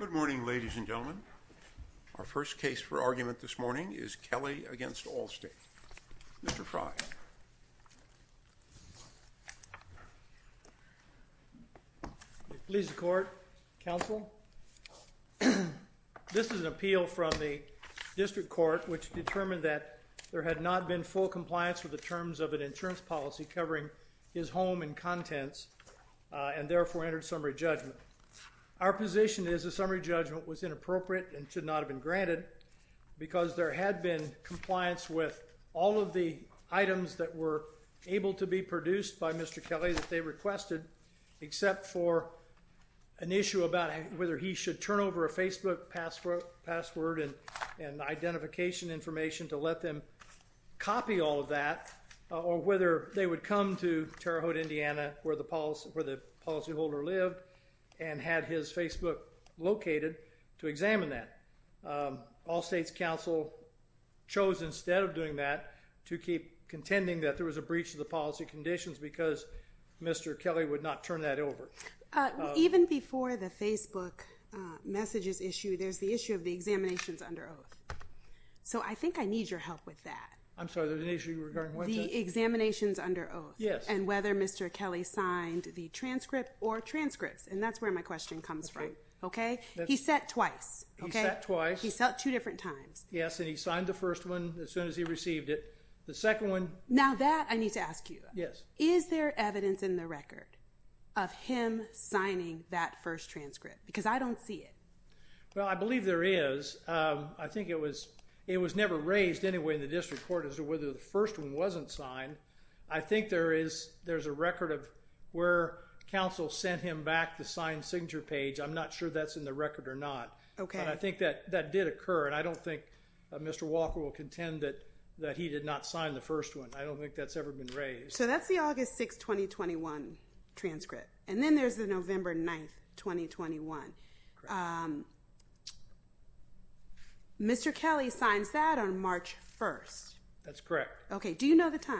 Good morning ladies and gentlemen. Our first case for argument this morning is Kelly v. Allstate. Mr. Frye. Please the court, counsel. This is an appeal from the district court which determined that there had not been full compliance with the terms of an insurance policy covering his home and contents and therefore entered summary judgment. Our position is a summary judgment was inappropriate and should not have been granted because there had been compliance with all of the items that were able to be produced by Mr. Kelly that they requested except for an issue about whether he should turn over a Facebook password and identification information to let them copy all of that or whether they would come to Terre Haute, Indiana where the policy holder lived and had his Facebook located to examine that. Allstate's counsel chose instead of doing that to keep contending that there was a breach of the policy conditions because Mr. Kelly would not turn that over. Even before the Facebook messages issue there's the issue of the examinations under oath. So I think I Yes. And whether Mr. Kelly signed the transcript or transcripts and that's where my question comes from. Okay. He set twice. He set twice. He set two different times. Yes and he signed the first one as soon as he received it. The second one. Now that I need to ask you. Yes. Is there evidence in the record of him signing that first transcript? Because I don't see it. Well I believe there is. I think it was it was never raised anyway in the district court as to whether the first one wasn't signed. I think there is there's a record of where counsel sent him back the signed signature page. I'm not sure that's in the record or not. Okay. I think that that did occur and I don't think Mr. Walker will contend that that he did not sign the first one. I don't think that's ever been raised. So that's the August 6, 2021 transcript and then there's the correct. Okay. Do you know the time?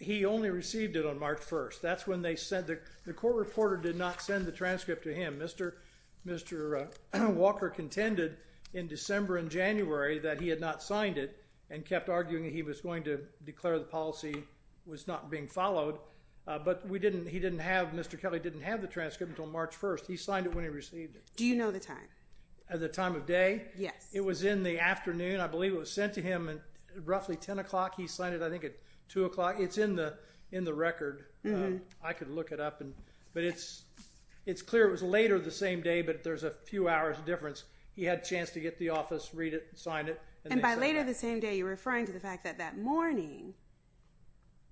He only received it on March 1st. That's when they said that the court reporter did not send the transcript to him. Mr. Mr. Walker contended in December and January that he had not signed it and kept arguing he was going to declare the policy was not being followed but we didn't he didn't have Mr. Kelly didn't have the transcript until March 1st. He signed it when he received it. Do you know the time? At the time of day? Yes. It was sent to him and roughly 10 o'clock. He signed it I think at 2 o'clock. It's in the in the record. I could look it up and but it's it's clear it was later the same day but there's a few hours difference. He had a chance to get the office read it and sign it. And by later the same day you're referring to the fact that that morning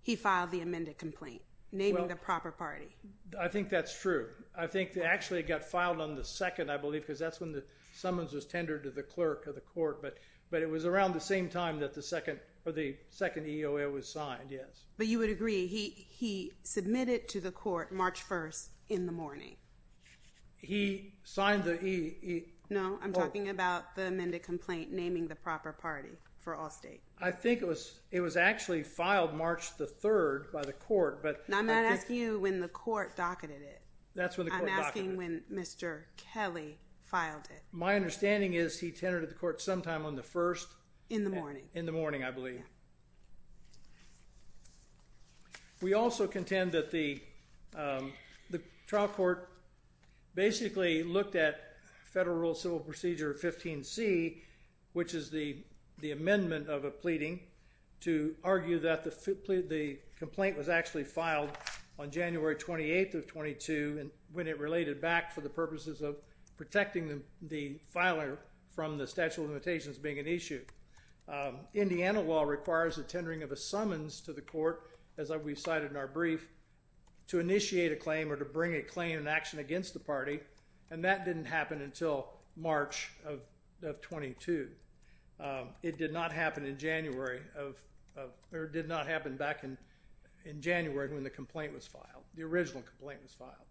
he filed the amended complaint naming the proper party. I think that's true. I think they actually got filed on the second I believe because that's when the summons was tendered to the clerk of the court but but it was around the same time that the second or the second EOA was signed yes. But you would agree he he submitted to the court March 1st in the morning. He signed the EOA. No I'm talking about the amended complaint naming the proper party for Allstate. I think it was it was actually filed March the 3rd by the court but. I'm not asking you when the court docketed it. That's when the court docketed it. I'm asking when Mr. Kelly filed it. My understanding is he tendered at the court sometime on the 1st. In the morning. In the morning I believe. We also contend that the the trial court basically looked at federal rule civil procedure 15 C which is the the amendment of a pleading to argue that the the complaint was actually filed on January 28th of 22 and when it related back for the purposes of protecting the the filer from the statute of limitations being an issue. Indiana law requires the tendering of a summons to the court as I we cited in our brief to initiate a claim or to bring a claim in action against the party and that didn't happen until March of 22. It did not happen in January of or did not happen back in in January when the complaint was filed. The original complaint was filed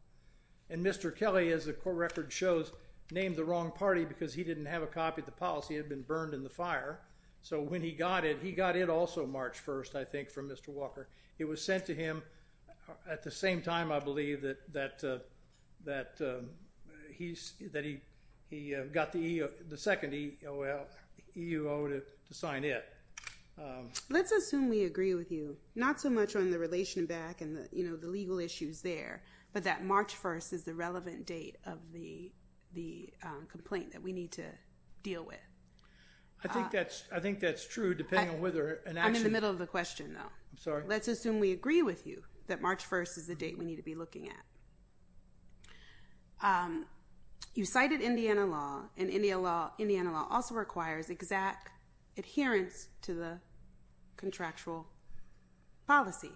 and Mr. Kelly as the court record shows named the wrong party because he didn't have a copy of the policy had been burned in the fire. So when he got it he got it also March 1st I think from Mr. Walker. It was sent to him at the same time I believe that that that he's that he he got the the second EEO to sign it. Let's assume we agree with you not so much on the relation back and you know the legal issues there but that March 1st is the relevant date of the the complaint that we need to deal with. I think that's I think that's true depending on whether. I'm in the middle of the question though. I'm sorry. Let's assume we agree with you that March 1st is the date we need to be law and Indian law also requires exact adherence to the contractual policy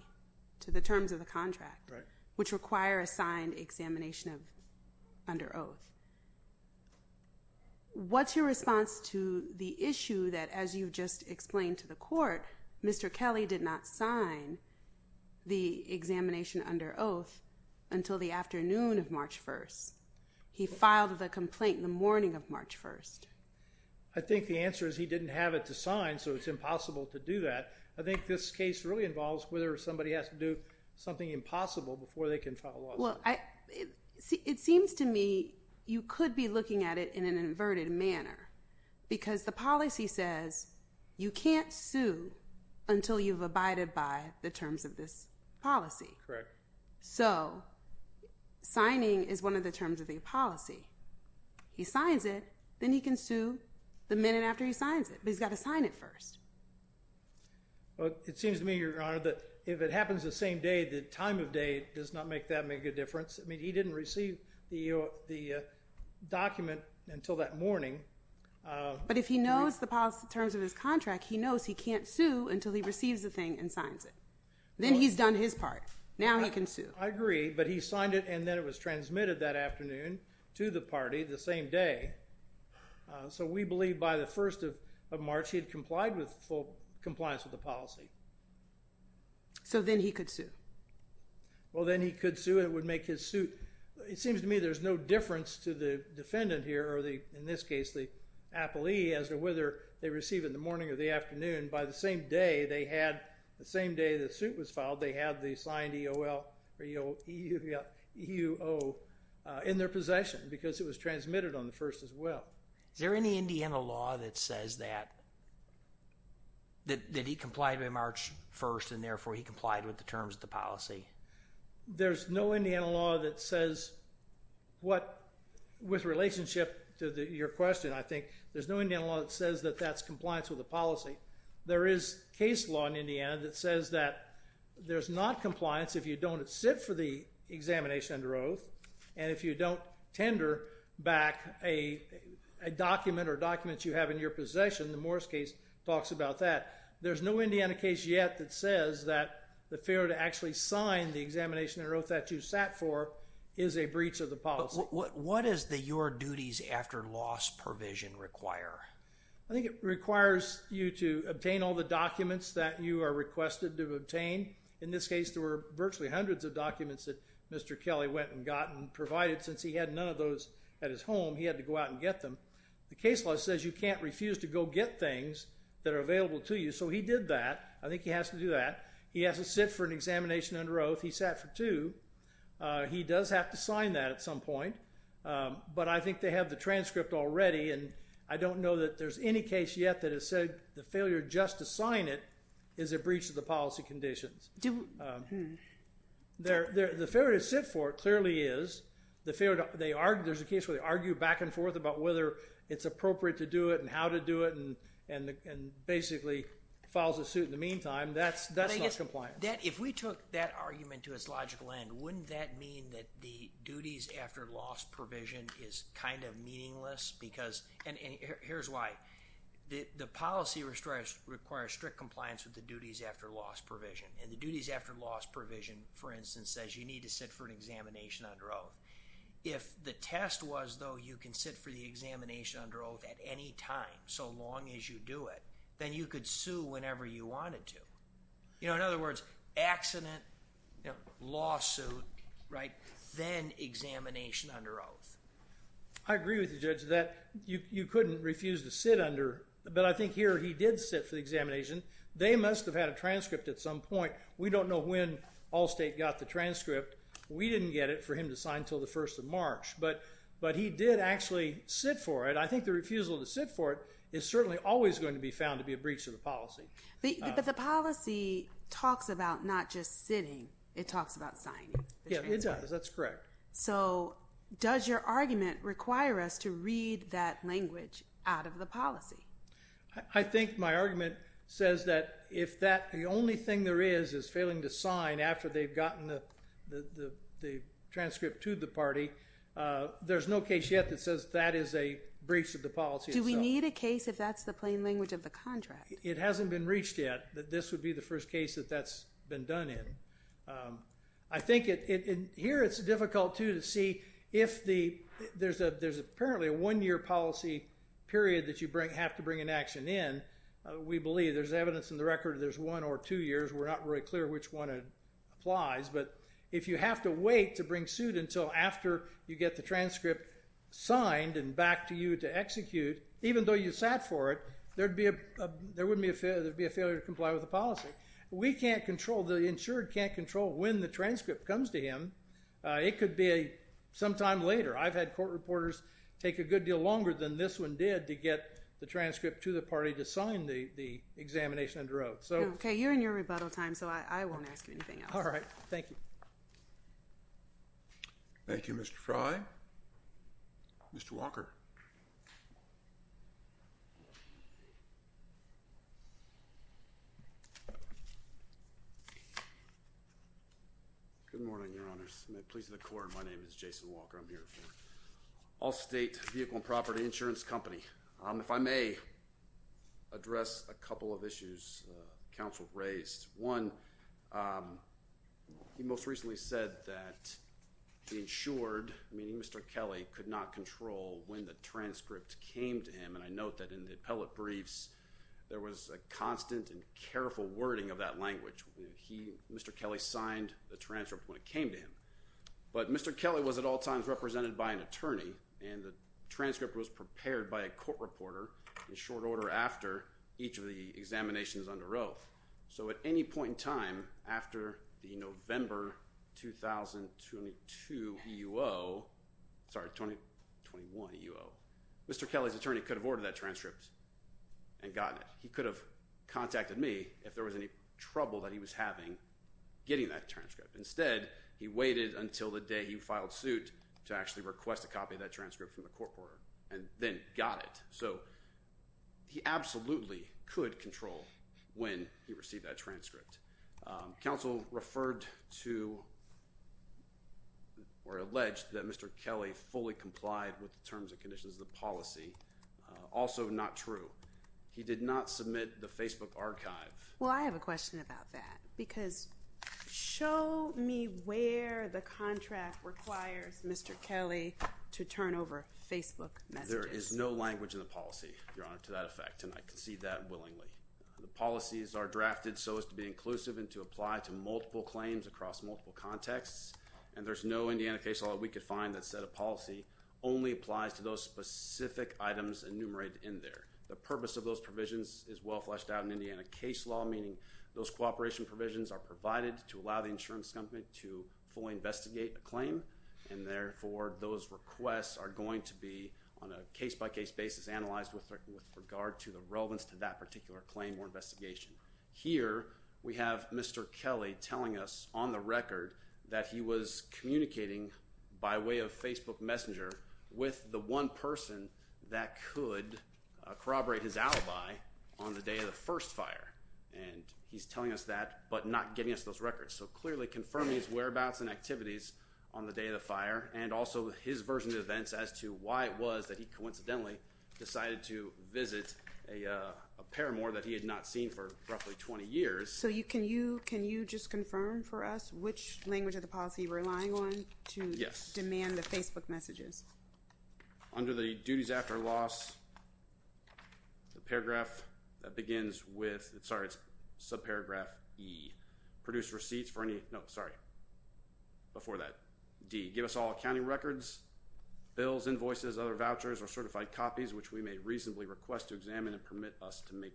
to the terms of the contract which require a signed examination of under oath. What's your response to the issue that as you just explained to the court Mr. Kelly did not sign the examination under oath until the afternoon of March 1st. He didn't have it to sign so it's impossible to do that. I think this case really involves whether somebody has to do something impossible before they can follow. Well I see it seems to me you could be looking at it in an inverted manner because the policy says you can't sue until you've abided by the terms of this policy. Correct. So signing is one of the terms of the policy. He signs it then he can sue the minute after he signs it but he's got to sign it first. Well it seems to me your honor that if it happens the same day the time of day does not make that make a difference. I mean he didn't receive the the document until that morning. But if he knows the policy terms of his contract he knows he he's done his part. Now he can sue. I agree but he signed it and then it was transmitted that afternoon to the party the same day. So we believe by the 1st of March he had complied with full compliance with the policy. So then he could sue. Well then he could sue it would make his suit. It seems to me there's no difference to the defendant here or the in this case the appellee as to whether they receive in the morning or the afternoon. By the same day they had the same day the suit was filed they had the signed EOL or EUL in their possession because it was transmitted on the 1st as well. Is there any Indiana law that says that that he complied by March 1st and therefore he complied with the terms of the policy? There's no Indiana law that says what with relationship to the your question I think there's no Indiana law that says that that's compliance with the policy. There is case law in Indiana that says that there's not compliance if you don't sit for the examination under oath and if you don't tender back a document or documents you have in your possession the Morris case talks about that. There's no Indiana case yet that says that the failure to actually sign the examination or oath that you sat for is a breach of the policy. What is the your duties after loss provision require? I think it requires you to obtain all the documents that you are requested to obtain. In this case there were virtually hundreds of documents that Mr. Kelly went and got and provided since he had none of those at his home he had to go out and get them. The case law says you can't refuse to go get things that are available to you so he did that. I think he has to do that. He has to sit for an examination under oath. He sat for two. He does have to sign that at some point but I think they have the transcript already and I don't know that there's any case yet that has said the failure just to sign it is a breach of the policy conditions. The failure to sit for it clearly is the failure they are there's a case where they argue back and forth about whether it's appropriate to do it and how to do it and and basically follows a suit in the meantime that's that's not compliant. If we took that argument to its logical end wouldn't that mean that the duties after loss provision is kind of the policy requires strict compliance with the duties after loss provision and the duties after loss provision for instance says you need to sit for an examination under oath. If the test was though you can sit for the examination under oath at any time so long as you do it then you could sue whenever you wanted to. You know in other words accident, lawsuit, right, then examination under oath. I agree with the judge that you couldn't refuse to sit under but I think here he did sit for the examination they must have had a transcript at some point we don't know when Allstate got the transcript we didn't get it for him to sign till the 1st of March but but he did actually sit for it I think the refusal to sit for it is certainly always going to be found to be a breach of the policy. The policy talks about not just sitting it talks about signing. Yeah that's correct. So does your argument require us to read that language out of the policy? I think my argument says that if that the only thing there is is failing to sign after they've gotten the the transcript to the party there's no case yet that says that is a breach of the policy. Do we need a case if that's the plain language of the contract? It hasn't been reached yet that this would be the first case that that's been done in. I think it here it's difficult to to see if the there's a there's apparently a one-year policy period that you bring have to bring an action in we believe there's evidence in the record there's one or two years we're not really clear which one it applies but if you have to wait to bring suit until after you get the transcript signed and back to you to execute even though you sat for it there'd be a there wouldn't be a failure to comply with the policy. We can't control the transcript comes to him it could be a sometime later I've had court reporters take a good deal longer than this one did to get the transcript to the party to sign the the examination under oath. Okay you're in your rebuttal time so I won't ask you anything else. All right thank you. Thank you Mr. Frye. Mr. Walker. Good morning your honors. My name is Jason Walker. I'm here for Allstate Vehicle and Property Insurance Company. If I may address a couple of issues counsel raised. One, he most recently said that the insured meaning Mr. Kelly could not control when the transcript came to him and I note that in the appellate briefs there was a constant and careful wording of that language. He signed the transcript when it came to him but Mr. Kelly was at all times represented by an attorney and the transcript was prepared by a court reporter in short order after each of the examinations under oath. So at any point in time after the November 2022 EUO, sorry 2021 EUO, Mr. Kelly's attorney could have ordered that transcript and gotten it. He could have contacted me if there was any trouble that he was having getting that transcript. Instead he waited until the day he filed suit to actually request a copy of that transcript from the court and then got it. So he absolutely could control when he received that transcript. Counsel referred to or alleged that Mr. Kelly fully complied with the terms and conditions of the policy. Also not true. He did not submit the Facebook archive. Well I have a question about that because show me where the contract requires Mr. Kelly to turn over Facebook messages. There is no language in the policy, Your Honor, to that effect and I concede that willingly. The policies are drafted so as to be inclusive and to apply to multiple claims across multiple contexts and there's no Indiana case law that we could find that said a policy only applies to those specific items enumerated in there. The purpose of those provisions is well fleshed out in Indiana case law meaning those cooperation provisions are provided to allow the insurance company to fully investigate a claim and therefore those requests are going to be on a case-by-case basis analyzed with regard to the relevance to that particular claim or investigation. Here we have Mr. Kelly telling us on the record that he was communicating by way of Facebook messenger with the one person that could corroborate his alibi on the day of the first fire and he's telling us that but not giving us those records. So clearly confirming his whereabouts and activities on the day of the fire and also his version of events as to why it was that he coincidentally decided to visit a paramour that he had not seen for roughly 20 years. So you can you can you just confirm for us which language of the policy you're relying on to demand the Facebook messages. Under the duties after loss the paragraph that begins with sorry it's subparagraph E. Produce receipts for any no sorry before that D. Give us all accounting records bills invoices other vouchers or certified copies which we may reasonably request to examine and permit us to make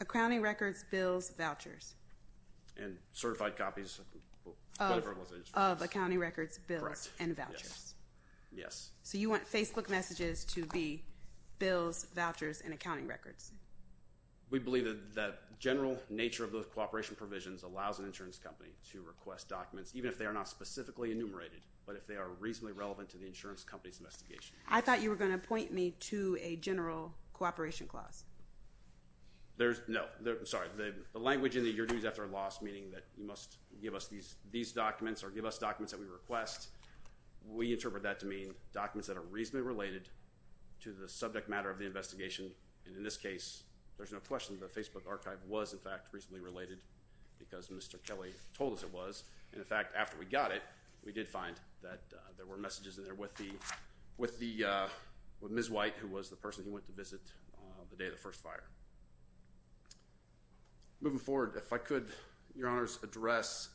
accounting records bills and vouchers. Yes. So you want Facebook messages to be bills vouchers and accounting records. We believe that that general nature of those cooperation provisions allows an insurance company to request documents even if they are not specifically enumerated but if they are reasonably relevant to the insurance company's investigation. I thought you were going to point me to a general cooperation clause. There's no sorry the language in the your dues after loss meaning that you must give us these these documents or give us documents that we request. We interpret that to mean documents that are reasonably related to the subject matter of the investigation and in this case there's no question the Facebook archive was in fact reasonably related because Mr. Kelly told us it was and in fact after we got it we did find that there were messages in there with the with the with Ms. White who was the person he went to visit the day of the first fire. Moving forward if I could your honors address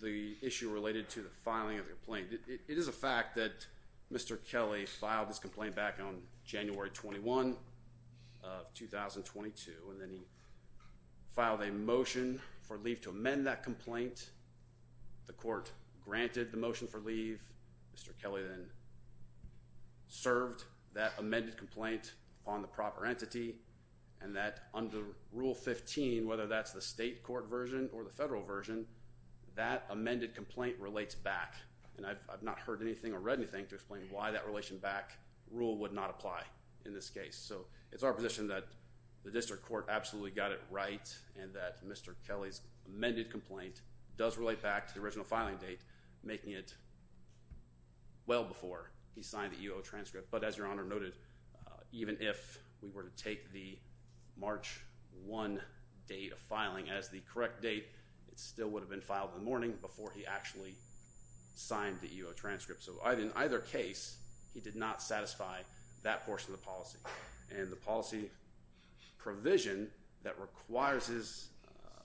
the issue related to the filing of the complaint. It is a fact that Mr. Kelly filed his complaint back on January 21 of 2022 and then he filed a motion for leave to amend that complaint. The court granted the motion for leave. Mr. Kelly then served that amended complaint on the proper entity and that under rule 15 whether that's the state court version or the federal version that amended complaint relates back and I've not heard anything or read anything to explain why that relation back rule would not apply in this case. So it's our position that the district court absolutely got it right and that Mr. Kelly's amended complaint does relate back to the original filing date making it well before he signed the EO transcript but as your honor noted even if we were to take the March 1 date of filing as the correct date it still would have been filed in the morning before he actually signed the EO transcript. So I didn't either case he did not satisfy that portion of the policy and the policy provision that requires his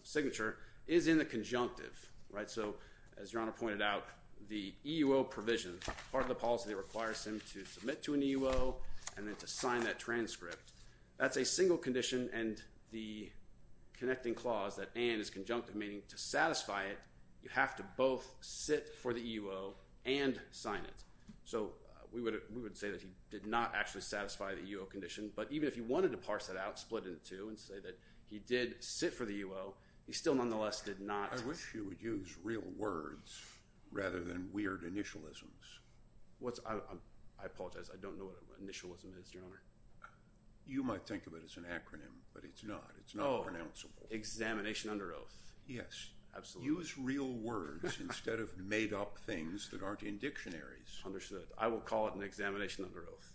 signature is in the conjunctive right so as your honor pointed out the EO provision part of the requires him to submit to an EO and then to sign that transcript that's a single condition and the connecting clause that and is conjunctive meaning to satisfy it you have to both sit for the EO and sign it so we would we would say that he did not actually satisfy the EO condition but even if you wanted to parse it out split into two and say that he did sit for the EO he still nonetheless did not. I wish you would use real words rather than weird initialisms. What's I apologize I don't know what initialism is your honor. You might think of it as an acronym but it's not it's not pronounceable. Examination under oath. Yes. Absolutely. Use real words instead of made-up things that aren't in dictionaries. Understood. I will call it an examination under oath.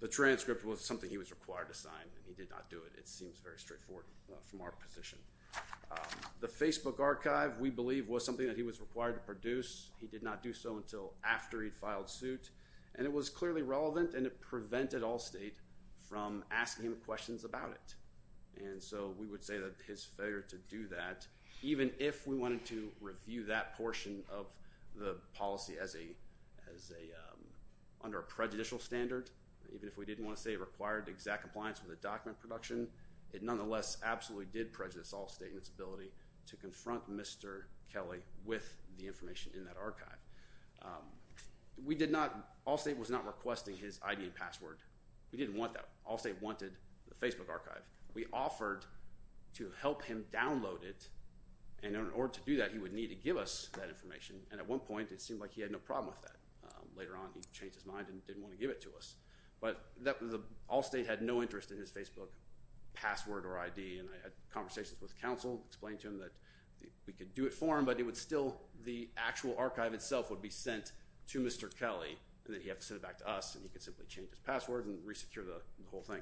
The transcript was something he was required to sign and he did not do it it seems very straightforward from our position. The Facebook archive we believe was something that he was required to produce he did not do so until after he filed suit and it was clearly relevant and it prevented Allstate from asking him questions about it and so we would say that his failure to do that even if we wanted to review that portion of the policy as a as a under a prejudicial standard even if we didn't want to say it required exact compliance with the document production it nonetheless absolutely did prejudice Allstate in confront Mr. Kelly with the information in that archive. We did not Allstate was not requesting his ID and password. We didn't want that. Allstate wanted the Facebook archive. We offered to help him download it and in order to do that he would need to give us that information and at one point it seemed like he had no problem with that. Later on he changed his mind and didn't want to give it to us but that was the Allstate had no interest in his Facebook password or ID and I had conversations with counsel explained to him that we could do it for him but it would still the actual archive itself would be sent to Mr. Kelly and that he have to send it back to us and he could simply change his password and re-secure the whole thing.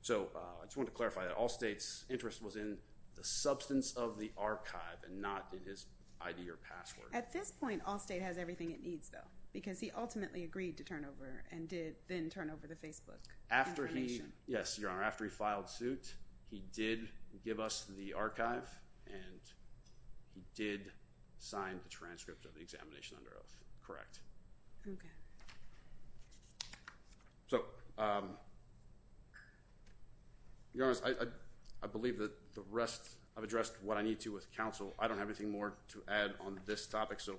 So I just want to clarify that Allstate's interest was in the substance of the archive and not in his ID or password. At this point Allstate has everything it needs though because he ultimately agreed to turn over and did then turn over the Facebook. After he yes your give us the archive and he did sign the transcript of the examination under oath correct. So you know I believe that the rest I've addressed what I need to with counsel I don't have anything more to add on this topic so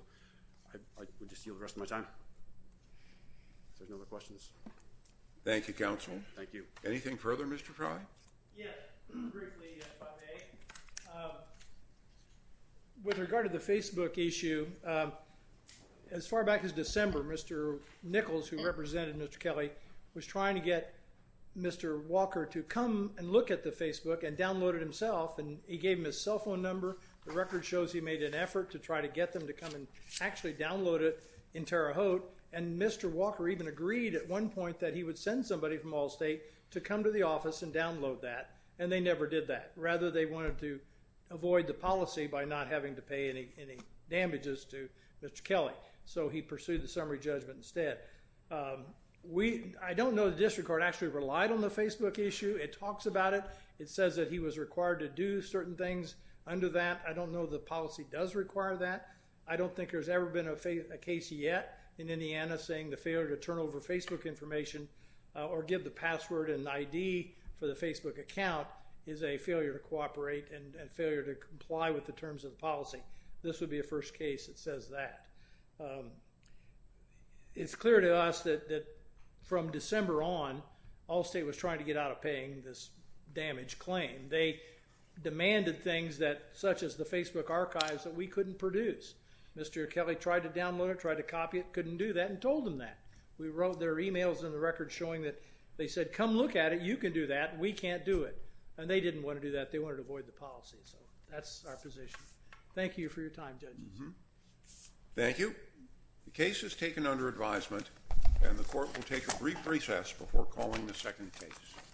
I would just deal the rest of my time. If there's no other questions. Thank you counsel. Thank you. Anything further Mr. Frye? Yes. Briefly if I may. With regard to the Facebook issue as far back as December Mr. Nichols who represented Mr. Kelly was trying to get Mr. Walker to come and look at the Facebook and downloaded himself and he gave him his cell phone number the record shows he made an effort to try to get them to come and actually download it in Terre Haute and Mr. Walker even agreed at one point that he would send somebody from Allstate to come to the office and download that and they never did that rather they wanted to avoid the policy by not having to pay any any damages to Mr. Kelly so he pursued the summary judgment instead. We I don't know the district court actually relied on the Facebook issue it talks about it it says that he was required to do certain things under that I don't know the policy does require that I don't think there's ever been a case yet in or give the password and ID for the Facebook account is a failure to cooperate and failure to comply with the terms of the policy. This would be a first case that says that. It's clear to us that from December on Allstate was trying to get out of paying this damage claim. They demanded things that such as the Facebook archives that we couldn't produce. Mr. Kelly tried to download it tried to copy it couldn't do that and told them that. We wrote their emails in the record showing that they said come look at it you can do that we can't do it and they didn't want to do that they wanted to avoid the policy so that's our position. Thank you for your time judges. Thank you. The case is taken under advisement and the court will take a brief recess before calling the second case.